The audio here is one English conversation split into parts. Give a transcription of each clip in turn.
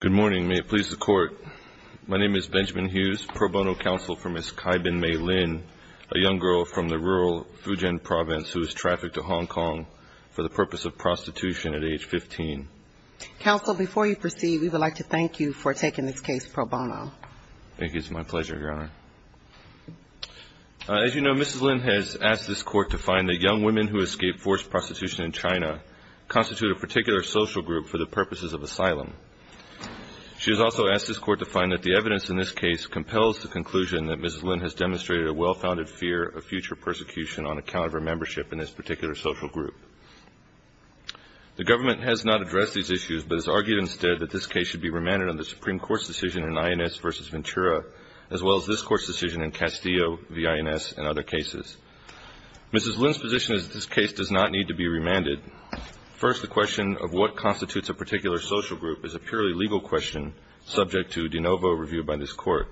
Good morning, may it please the Court. My name is Benjamin Hughes, pro bono counsel for Ms. Kaibin Mei Lin, a young girl from the rural Fujian province who was trafficked to Hong Kong for the purpose of prostitution at age 15. Counsel, before you proceed, we would like to thank you for taking this case pro bono. Thank you. It's my pleasure, Your Honor. As you know, Mrs. Lin has asked this Court to find that young women who escape forced prostitution in China constitute a particular social group for the purposes of asylum. She has also asked this Court to find that the evidence in this case compels the conclusion that Mrs. Lin has demonstrated a well-founded fear of future persecution on account of her membership in this particular social group. The Government has not addressed these issues, but has argued instead that this case should be remanded on the Supreme Court's decision in INS v. Ventura, as well as this Court's decision in Castillo v. INS and other cases. Mrs. Lin's position is that this case does not need to be remanded. First, the question of what constitutes a particular social group is a purely legal question subject to de novo review by this Court.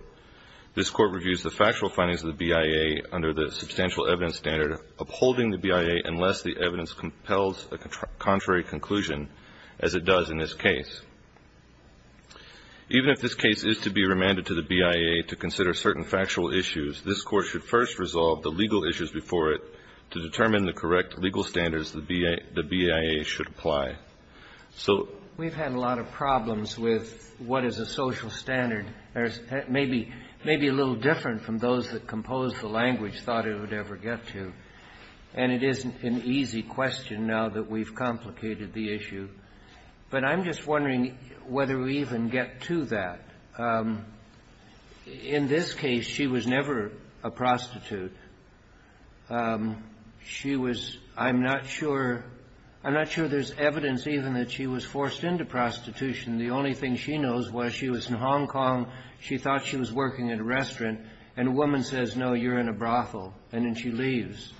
This Court reviews the factual findings of the BIA under the substantial evidence standard upholding the BIA unless the evidence compels a contrary conclusion, as it does in this case. Even if this case is to be remanded to the BIA to consider certain factual issues, this Court should first resolve the legal issues before it to determine the correct legal standards the BIA should apply. So we've had a lot of problems with what is a social standard. It may be a little different from those that composed the language thought it would ever get to, and it isn't an easy question now that we've complicated the issue. But I'm just wondering whether we even get to that. In this case, she was never a prostitute. She was — I'm not sure — I'm not sure there's evidence even that she was forced into prostitution. The only thing she knows was she was in Hong Kong, she thought she was working at a restaurant, and a woman says, no, you're in a brothel, and then she leaves.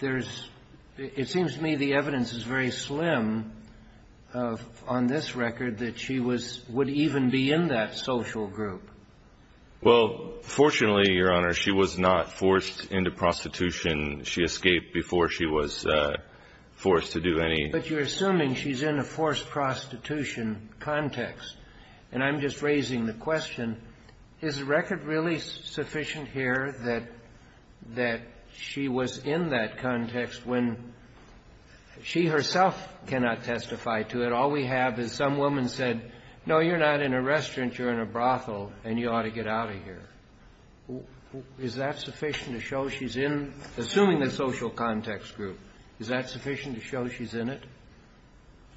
There's — it seems to me the evidence is very slim on this record that she was — would even be in that social group. Well, fortunately, Your Honor, she was not forced into prostitution. She escaped before she was forced to do any — But you're assuming she's in a forced prostitution context. And I'm just raising the question, is the record really sufficient here that she was in that context when she herself cannot testify to it? All we have is some woman said, no, you're not in a restaurant, you're in a brothel, and you ought to get out of here. Is that sufficient to show she's in — assuming the social context group, is that sufficient to show she's in it?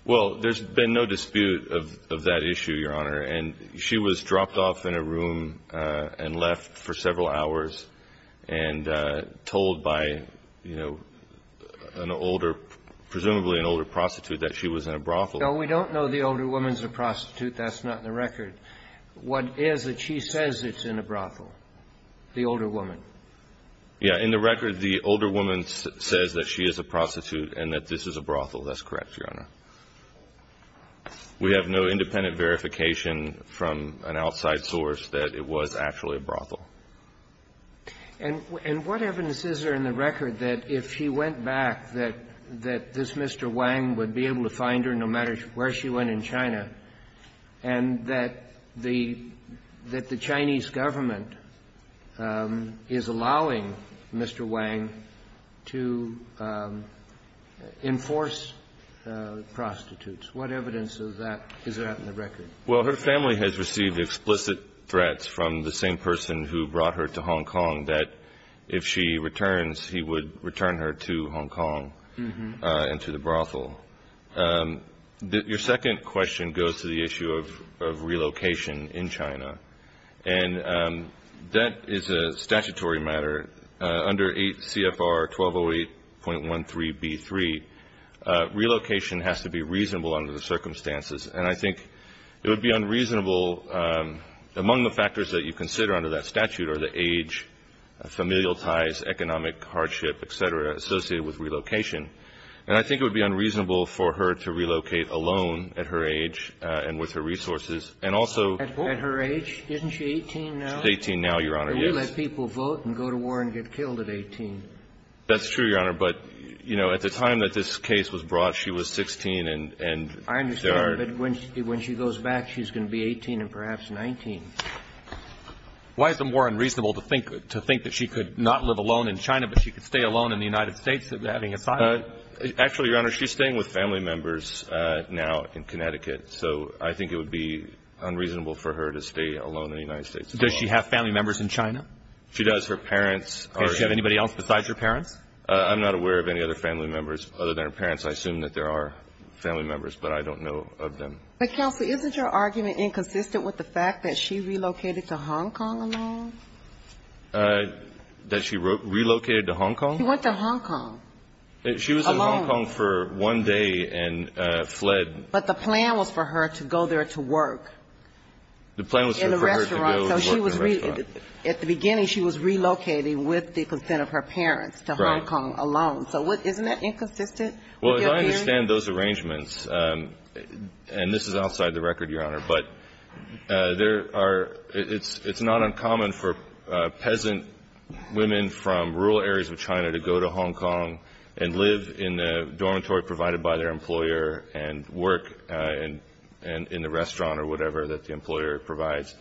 Well, there's been no dispute of that issue, Your Honor. And she was dropped off in a room and left for several hours and told by, you know, an older — presumably an older prostitute that she was in a brothel. No, we don't know the older woman's a prostitute. That's not in the record. What is that she says it's in a brothel, the older woman? Yeah. In the record, the older woman says that she is a prostitute and that this is a brothel. That's correct, Your Honor. We have no independent verification from an outside source that it was actually a brothel. And what evidence is there in the record that if she went back, that this Mr. Wang would be able to find her no matter where she went in China? And that the — that the Chinese government is allowing Mr. Wang to enforce prostitutes? What evidence of that is there in the record? Well, her family has received explicit threats from the same person who brought her to Hong Kong, that if she returns, he would return her to Hong Kong and to the brothel. Your second question goes to the issue of relocation in China. And that is a statutory matter. Under 8 CFR 1208.13b3, relocation has to be reasonable under the circumstances. And I think it would be unreasonable — among the factors that you consider under that statute are the age, familial ties, economic hardship, et cetera, associated with relocation. And I think it would be unreasonable for her to relocate alone at her age and with her resources. And also — At her age? Isn't she 18 now? She's 18 now, Your Honor. Yes. And we let people vote and go to war and get killed at 18. That's true, Your Honor. But, you know, at the time that this case was brought, she was 16 and — I understand. But when she goes back, she's going to be 18 and perhaps 19. Why is it more unreasonable to think — to think that she could not live alone in China, but she could stay alone in the United States? Actually, Your Honor, she's staying with family members now in Connecticut. So I think it would be unreasonable for her to stay alone in the United States. Does she have family members in China? She does. Her parents are — Does she have anybody else besides her parents? I'm not aware of any other family members other than her parents. I assume that there are family members, but I don't know of them. But, counsel, isn't your argument inconsistent with the fact that she relocated to Hong Kong alone? That she relocated to Hong Kong? She went to Hong Kong alone. She was in Hong Kong for one day and fled. But the plan was for her to go there to work. The plan was for her to go work in a restaurant. In a restaurant. So she was — at the beginning, she was relocating with the consent of her parents to Hong Kong alone. Right. So isn't that inconsistent with your hearing? Well, if I understand those arrangements, and this is outside the record, Your Honor, but there are — it's not uncommon for peasant women from rural areas of China to go to Hong Kong and live in the dormitory provided by their employer and work in the restaurant or whatever that the employer provides.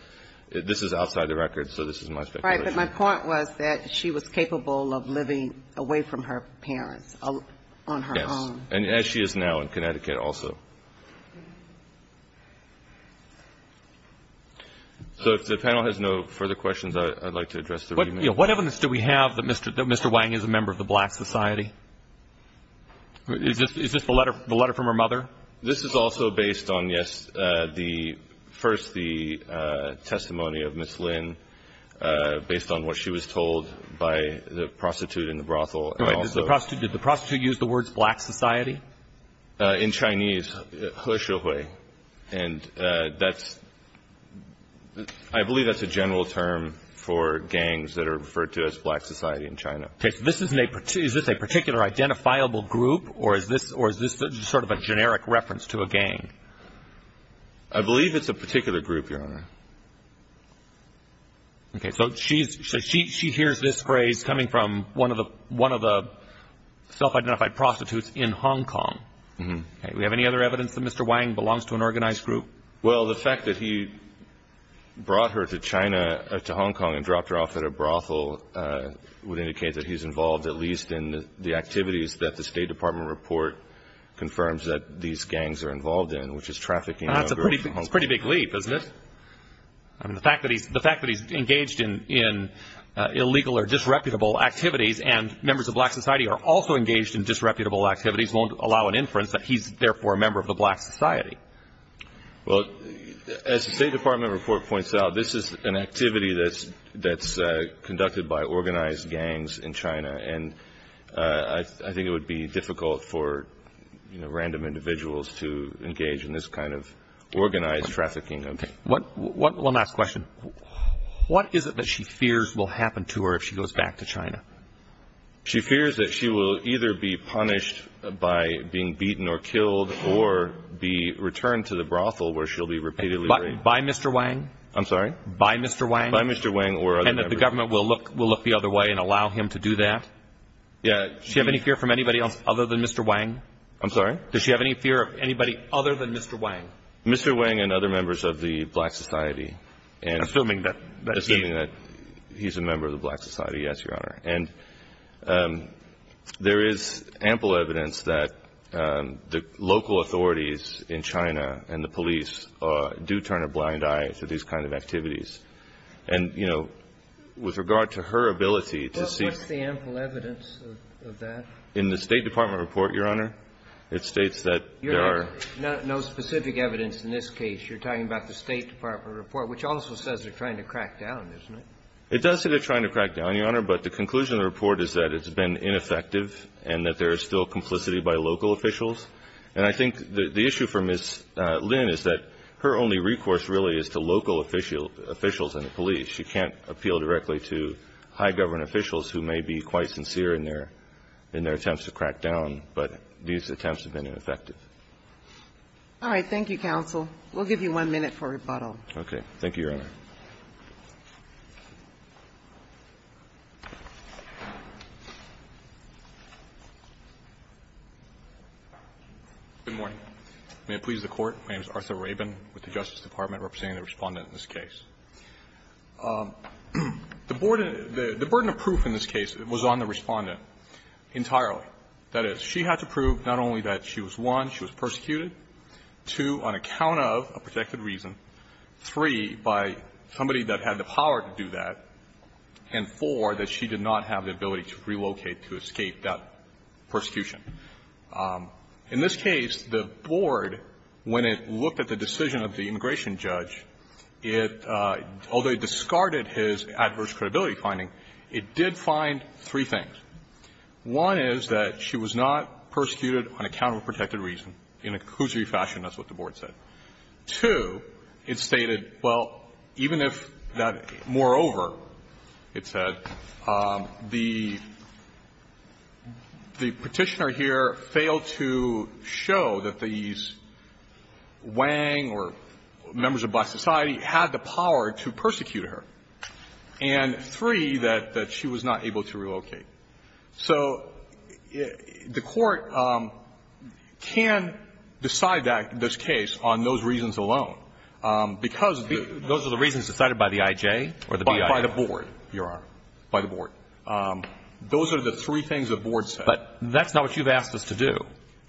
This is outside the record, so this is my speculation. Right. But my point was that she was capable of living away from her parents on her own. And as she is now in Connecticut also. So if the panel has no further questions, I'd like to address the remand. What evidence do we have that Mr. Wang is a member of the Black Society? Is this the letter from her mother? This is also based on, yes, the — first, the testimony of Ms. Lin, based on what she was told by the prostitute in the brothel. Did the prostitute use the words Black Society? In Chinese. And that's — I believe that's a general term for gangs that are referred to as Black Society in China. Okay. So this isn't a — is this a particular identifiable group, or is this sort of a generic reference to a gang? I believe it's a particular group, Your Honor. Okay. So she hears this phrase coming from one of the self-identified prostitutes in Hong Kong. Okay. Do we have any other evidence that Mr. Wang belongs to an organized group? Well, the fact that he brought her to China — to Hong Kong and dropped her off at a brothel would indicate that he's involved, at least in the activities that the State Department report confirms that these gangs are involved in, which is trafficking. That's a pretty big leap, isn't it? I mean, the fact that he's engaged in illegal or disreputable activities and members of Black Society are also engaged in disreputable activities won't allow an inference that he's, therefore, a member of the Black Society. Well, as the State Department report points out, this is an activity that's conducted by organized gangs in China, and I think it would be difficult for, you know, random individuals to engage in this kind of organized trafficking. Okay. One last question. What is it that she fears will happen to her if she goes back to China? She fears that she will either be punished by being beaten or killed or be returned to the brothel where she'll be repeatedly raped. By Mr. Wang? I'm sorry? By Mr. Wang? By Mr. Wang or other members. And that the government will look the other way and allow him to do that? Yeah. Does she have any fear from anybody else other than Mr. Wang? I'm sorry? Does she have any fear of anybody other than Mr. Wang? Mr. Wang and other members of the Black Society. Assuming that he's a member of the Black Society. Yes, Your Honor. And there is ample evidence that the local authorities in China and the police do turn a blind eye to these kind of activities. And, you know, with regard to her ability to see ---- What's the ample evidence of that? In the State Department report, Your Honor, it states that there are ---- No specific evidence in this case. You're talking about the State Department report, which also says they're trying to crack down, isn't it? It does say they're trying to crack down, Your Honor, but the conclusion of the report is that it's been ineffective and that there is still complicity by local officials. And I think the issue for Ms. Lin is that her only recourse really is to local officials and the police. She can't appeal directly to high government officials who may be quite sincere in their attempts to crack down, but these attempts have been ineffective. All right. Thank you, counsel. We'll give you one minute for rebuttal. Okay. Thank you, Your Honor. Good morning. May it please the Court. My name is Arthur Rabin with the Justice Department representing the Respondent in this case. The burden of proof in this case was on the Respondent entirely. That is, she had to prove not only that she was, one, she was persecuted, two, on account of a protected reason, three, by somebody that had the power to do that, and four, that she did not have the ability to relocate to escape that persecution. In this case, the board, when it looked at the decision of the immigration judge, it, although it discarded his adverse credibility finding, it did find three things. One is that she was not persecuted on account of a protected reason. In a conclusionary fashion, that's what the board said. Two, it stated, well, even if that moreover, it said, the Petitioner here failed to show that these Wang or members of black society had the power to persecute her. And three, that she was not able to relocate. So the Court can decide that, this case, on those reasons alone. Because the ---- Those are the reasons decided by the I.J. or the B.I.? By the board, Your Honor. By the board. Those are the three things the board said. But that's not what you've asked us to do.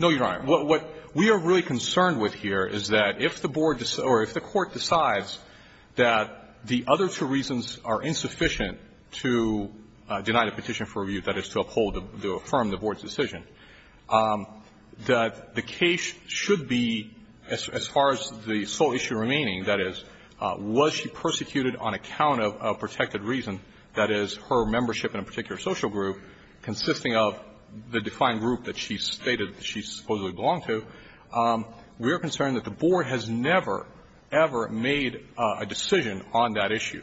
No, Your Honor. What we are really concerned with here is that if the board, or if the Court decides that the other two reasons are insufficient to deny the petition for review, that is to uphold, to affirm the board's decision, that the case should be, as far as the sole issue remaining, that is, was she persecuted on account of a protected reason, that is, her membership in a particular social group consisting of the defined group that she stated she supposedly belonged to, we are concerned that the board has never, ever made a decision on that issue.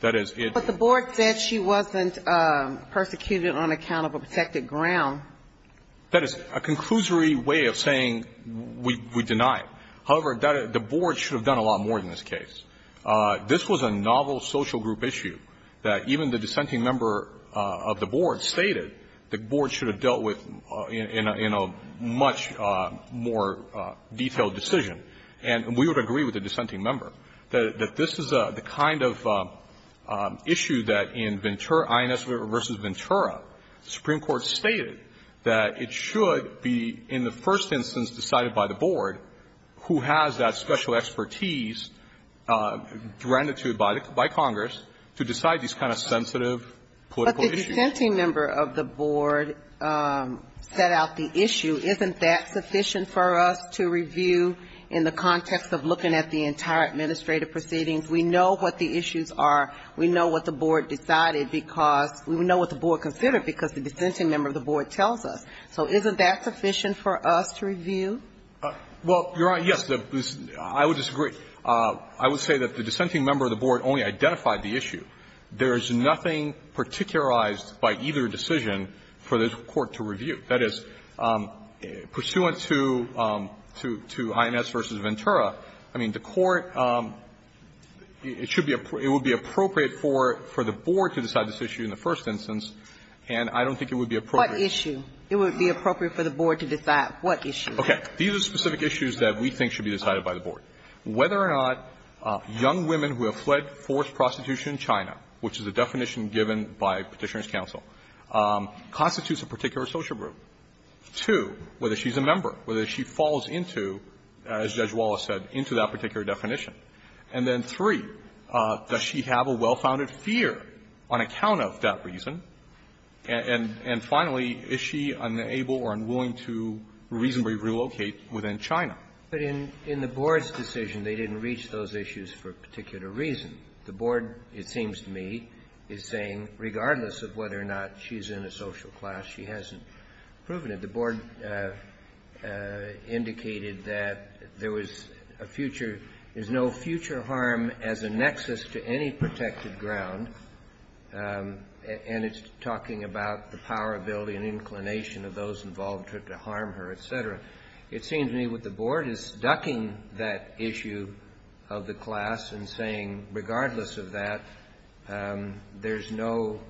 That is, it ---- But the board said she wasn't persecuted on account of a protected ground. That is a conclusory way of saying we deny it. However, the board should have done a lot more in this case. This was a novel social group issue that even the dissenting member of the board stated the board should have dealt with in a much more detailed decision. And we would agree with the dissenting member that this is the kind of issue that in Ventura, INS v. Ventura, the Supreme Court stated that it should be in the first instance decided by the board who has that special expertise granted to it by Congress to decide these kind of sensitive political issues. But the dissenting member of the board set out the issue. Isn't that sufficient for us to review in the context of looking at the entire administrative proceedings? We know what the issues are. We know what the board decided because we know what the board considered because the dissenting member of the board tells us. So isn't that sufficient for us to review? Well, Your Honor, yes. I would disagree. I would say that the dissenting member of the board only identified the issue. There is nothing particularized by either decision for the court to review. That is, pursuant to INS v. Ventura, I mean, the court – it should be – it would be appropriate for the board to decide this issue in the first instance, and I don't think it would be appropriate. What issue? It would be appropriate for the board to decide what issue? Okay. These are specific issues that we think should be decided by the board. Whether or not young women who have fled forced prostitution in China, which is a definition given by Petitioner's counsel, constitutes a particular social group. Two, whether she's a member, whether she falls into, as Judge Wallace said, into that particular definition. And then three, does she have a well-founded fear on account of that reason? And finally, is she unable or unwilling to reasonably relocate within China? But in the board's decision, they didn't reach those issues for a particular reason. The board, it seems to me, is saying regardless of whether or not she's in a social class, she hasn't proven it. The board indicated that there was a future – there's no future harm as a nexus to any protected ground. And it's talking about the power, ability, and inclination of those involved to harm her, et cetera. It seems to me what the board is ducking that issue of the class and saying regardless of that, there's no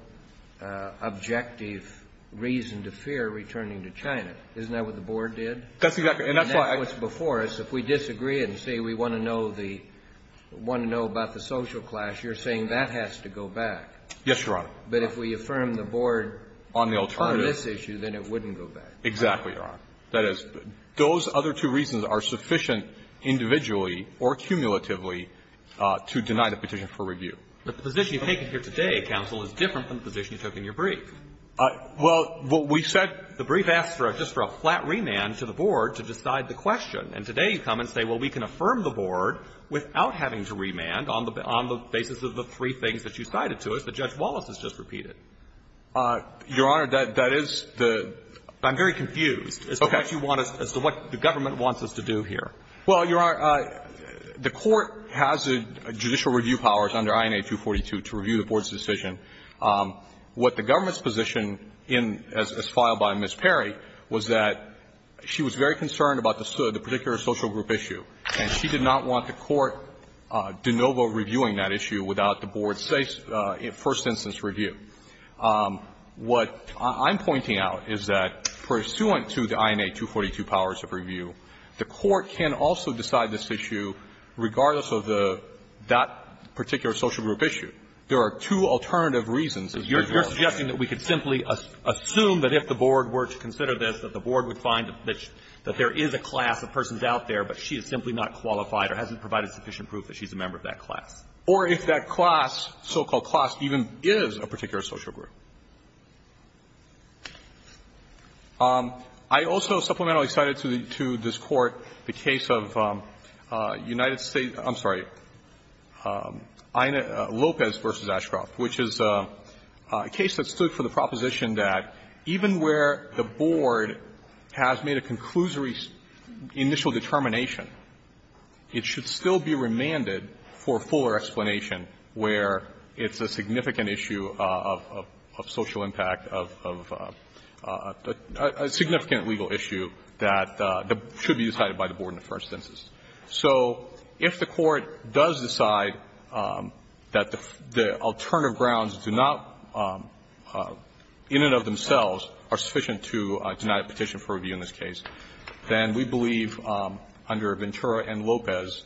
objective reason to fear returning to China. Isn't that what the board did? That's exactly – and that's why – And that's what's before us. If we disagree and say we want to know the – want to know about the social class, you're saying that has to go back. Yes, Your Honor. But if we affirm the board on this issue, then it wouldn't go back. Exactly, Your Honor. That is, those other two reasons are sufficient individually or cumulatively to deny the petition for review. But the position you've taken here today, counsel, is different than the position you took in your brief. Well, what we said – The brief asked for a – just for a flat remand to the board to decide the question. And today you come and say, well, we can affirm the board without having to remand on the basis of the three things that you cited to us that Judge Wallace has just repeated. Your Honor, that is the – I'm very confused as to what you want us – as to what the government wants us to do here. Well, Your Honor, the court has judicial review powers under INA 242 to review the board's decision. What the government's position in – as filed by Ms. Perry was that she was very concerned about the particular social group issue, and she did not want the court de novo reviewing that issue without the board's first instance review. What I'm pointing out is that, pursuant to the INA 242 powers of review, the court can also decide this issue regardless of the – that particular social group issue. There are two alternative reasons. You're suggesting that we could simply assume that if the board were to consider this, that the board would find that there is a class of persons out there, but she is simply not qualified or hasn't provided sufficient proof that she's a member of that class. Or if that class, so-called class, even is a particular social group. I also supplementally cited to the – to this Court the case of United States – I'm sorry, INA – Lopez v. Ashcroft, which is a case that stood for the proposition that even where the board has made a conclusory initial determination, it should still be remanded for fuller explanation where it's a significant issue of social impact, of a significant legal issue that should be decided by the board in the first instance. So if the Court does decide that the alternative grounds do not, in and of themselves, are sufficient to deny a petition for review in this case, then we believe under Ventura and Lopez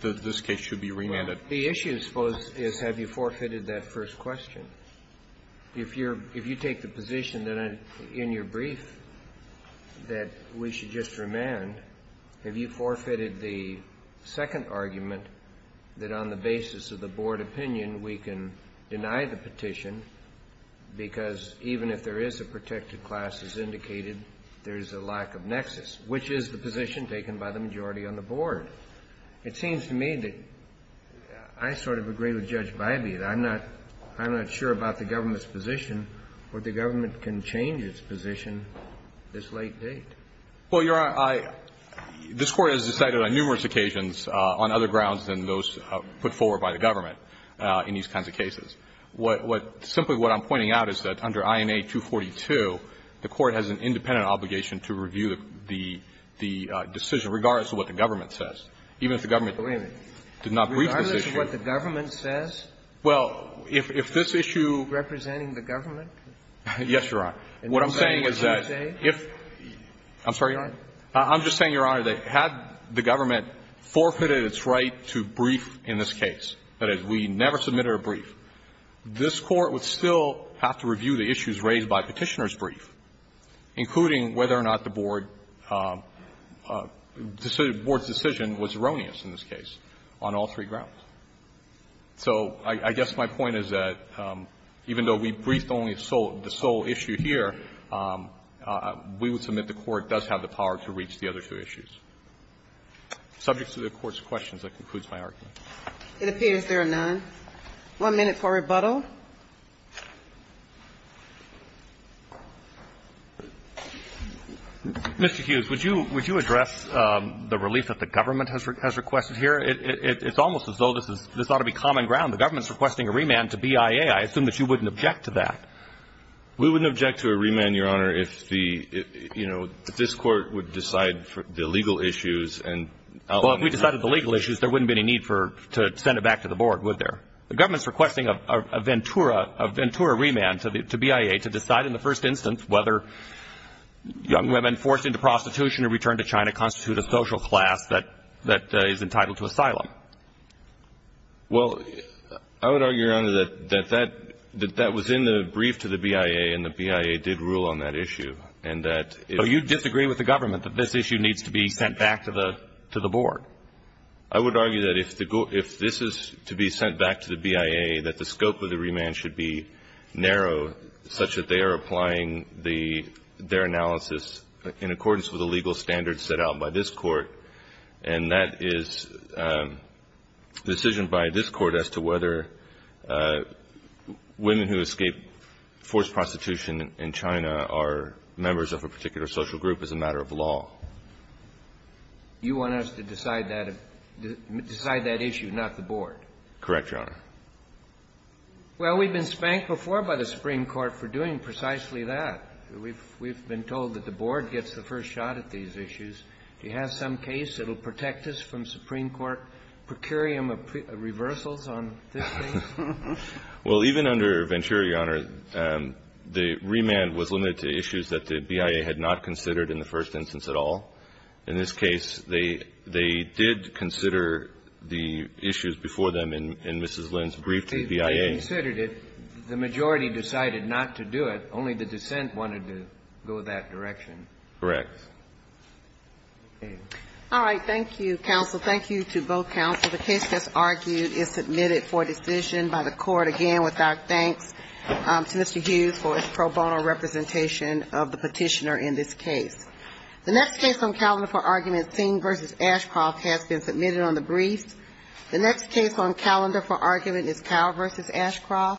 that this case should be remanded. The issue, I suppose, is have you forfeited that first question. If you're – if you take the position that in your brief that we should just remand, have you forfeited the second argument that on the basis of the board opinion, we can deny the petition because even if there is a protected class, as indicated, there's a lack of nexus, which is the position taken by the majority on the board? It seems to me that I sort of agree with Judge Bybee that I'm not – I'm not sure about the government's position or the government can change its position this late date. Well, Your Honor, I – this Court has decided on numerous occasions on other grounds than those put forward by the government in these kinds of cases. What – simply what I'm pointing out is that under INA 242, the Court has an independent obligation to review the decision regardless of what the government says, even if the government did not breach this issue. Regardless of what the government says? Well, if this issue – Representing the government? Yes, Your Honor. What I'm saying is that if – I'm sorry, Your Honor. I'm just saying, Your Honor, that had the government forfeited its right to brief in this case, that is, we never submitted a brief, this Court would still have to review the issues raised by Petitioner's brief, including whether or not the board – the board's decision was erroneous in this case on all three grounds. So I guess my point is that even though we briefed only the sole issue here, we would the Court does have the power to reach the other two issues. Subject to the Court's questions, that concludes my argument. It appears there are none. One minute for rebuttal. Mr. Hughes, would you address the relief that the government has requested here? It's almost as though this is – this ought to be common ground. The government is requesting a remand to BIA. I assume that you wouldn't object to that. We wouldn't object to a remand, Your Honor, if the – you know, if this Court would decide the legal issues and – Well, if we decided the legal issues, there wouldn't be any need for – to send it back to the board, would there? The government's requesting a Ventura – a Ventura remand to BIA to decide in the first instance whether young women forced into prostitution or returned to China constitute a social class that is entitled to asylum. Well, I would argue, Your Honor, that that – that that was in the brief to the BIA and the BIA did rule on that issue, and that it – So you disagree with the government that this issue needs to be sent back to the – to the board? I would argue that if the – if this is to be sent back to the BIA, that the scope of the remand should be narrow, such that they are applying the – their analysis in accordance with the legal standards set out by this Court. And that is a decision by this Court as to whether women who escape forced prostitution in China are members of a particular social group as a matter of law. You want us to decide that – decide that issue, not the board? Correct, Your Honor. Well, we've been spanked before by the Supreme Court for doing precisely that. We've – we've been told that the board gets the first shot at these issues. Do you have some case that will protect us from Supreme Court procurium reversals on this case? Well, even under Ventura, Your Honor, the remand was limited to issues that the BIA had not considered in the first instance at all. In this case, they – they did consider the issues before them in Mrs. Lin's brief to the BIA. They considered it. The majority decided not to do it. Only the dissent wanted to go that direction. Correct. All right. Thank you, counsel. Thank you to both counsel. The case that's argued is submitted for decision by the Court, again, with our thanks to Mr. Hughes for his pro bono representation of the petitioner in this case. The next case on calendar for argument, Singh v. Ashcroft, has been submitted on the brief. The next case on calendar for argument is Kyle v. Ashcroft.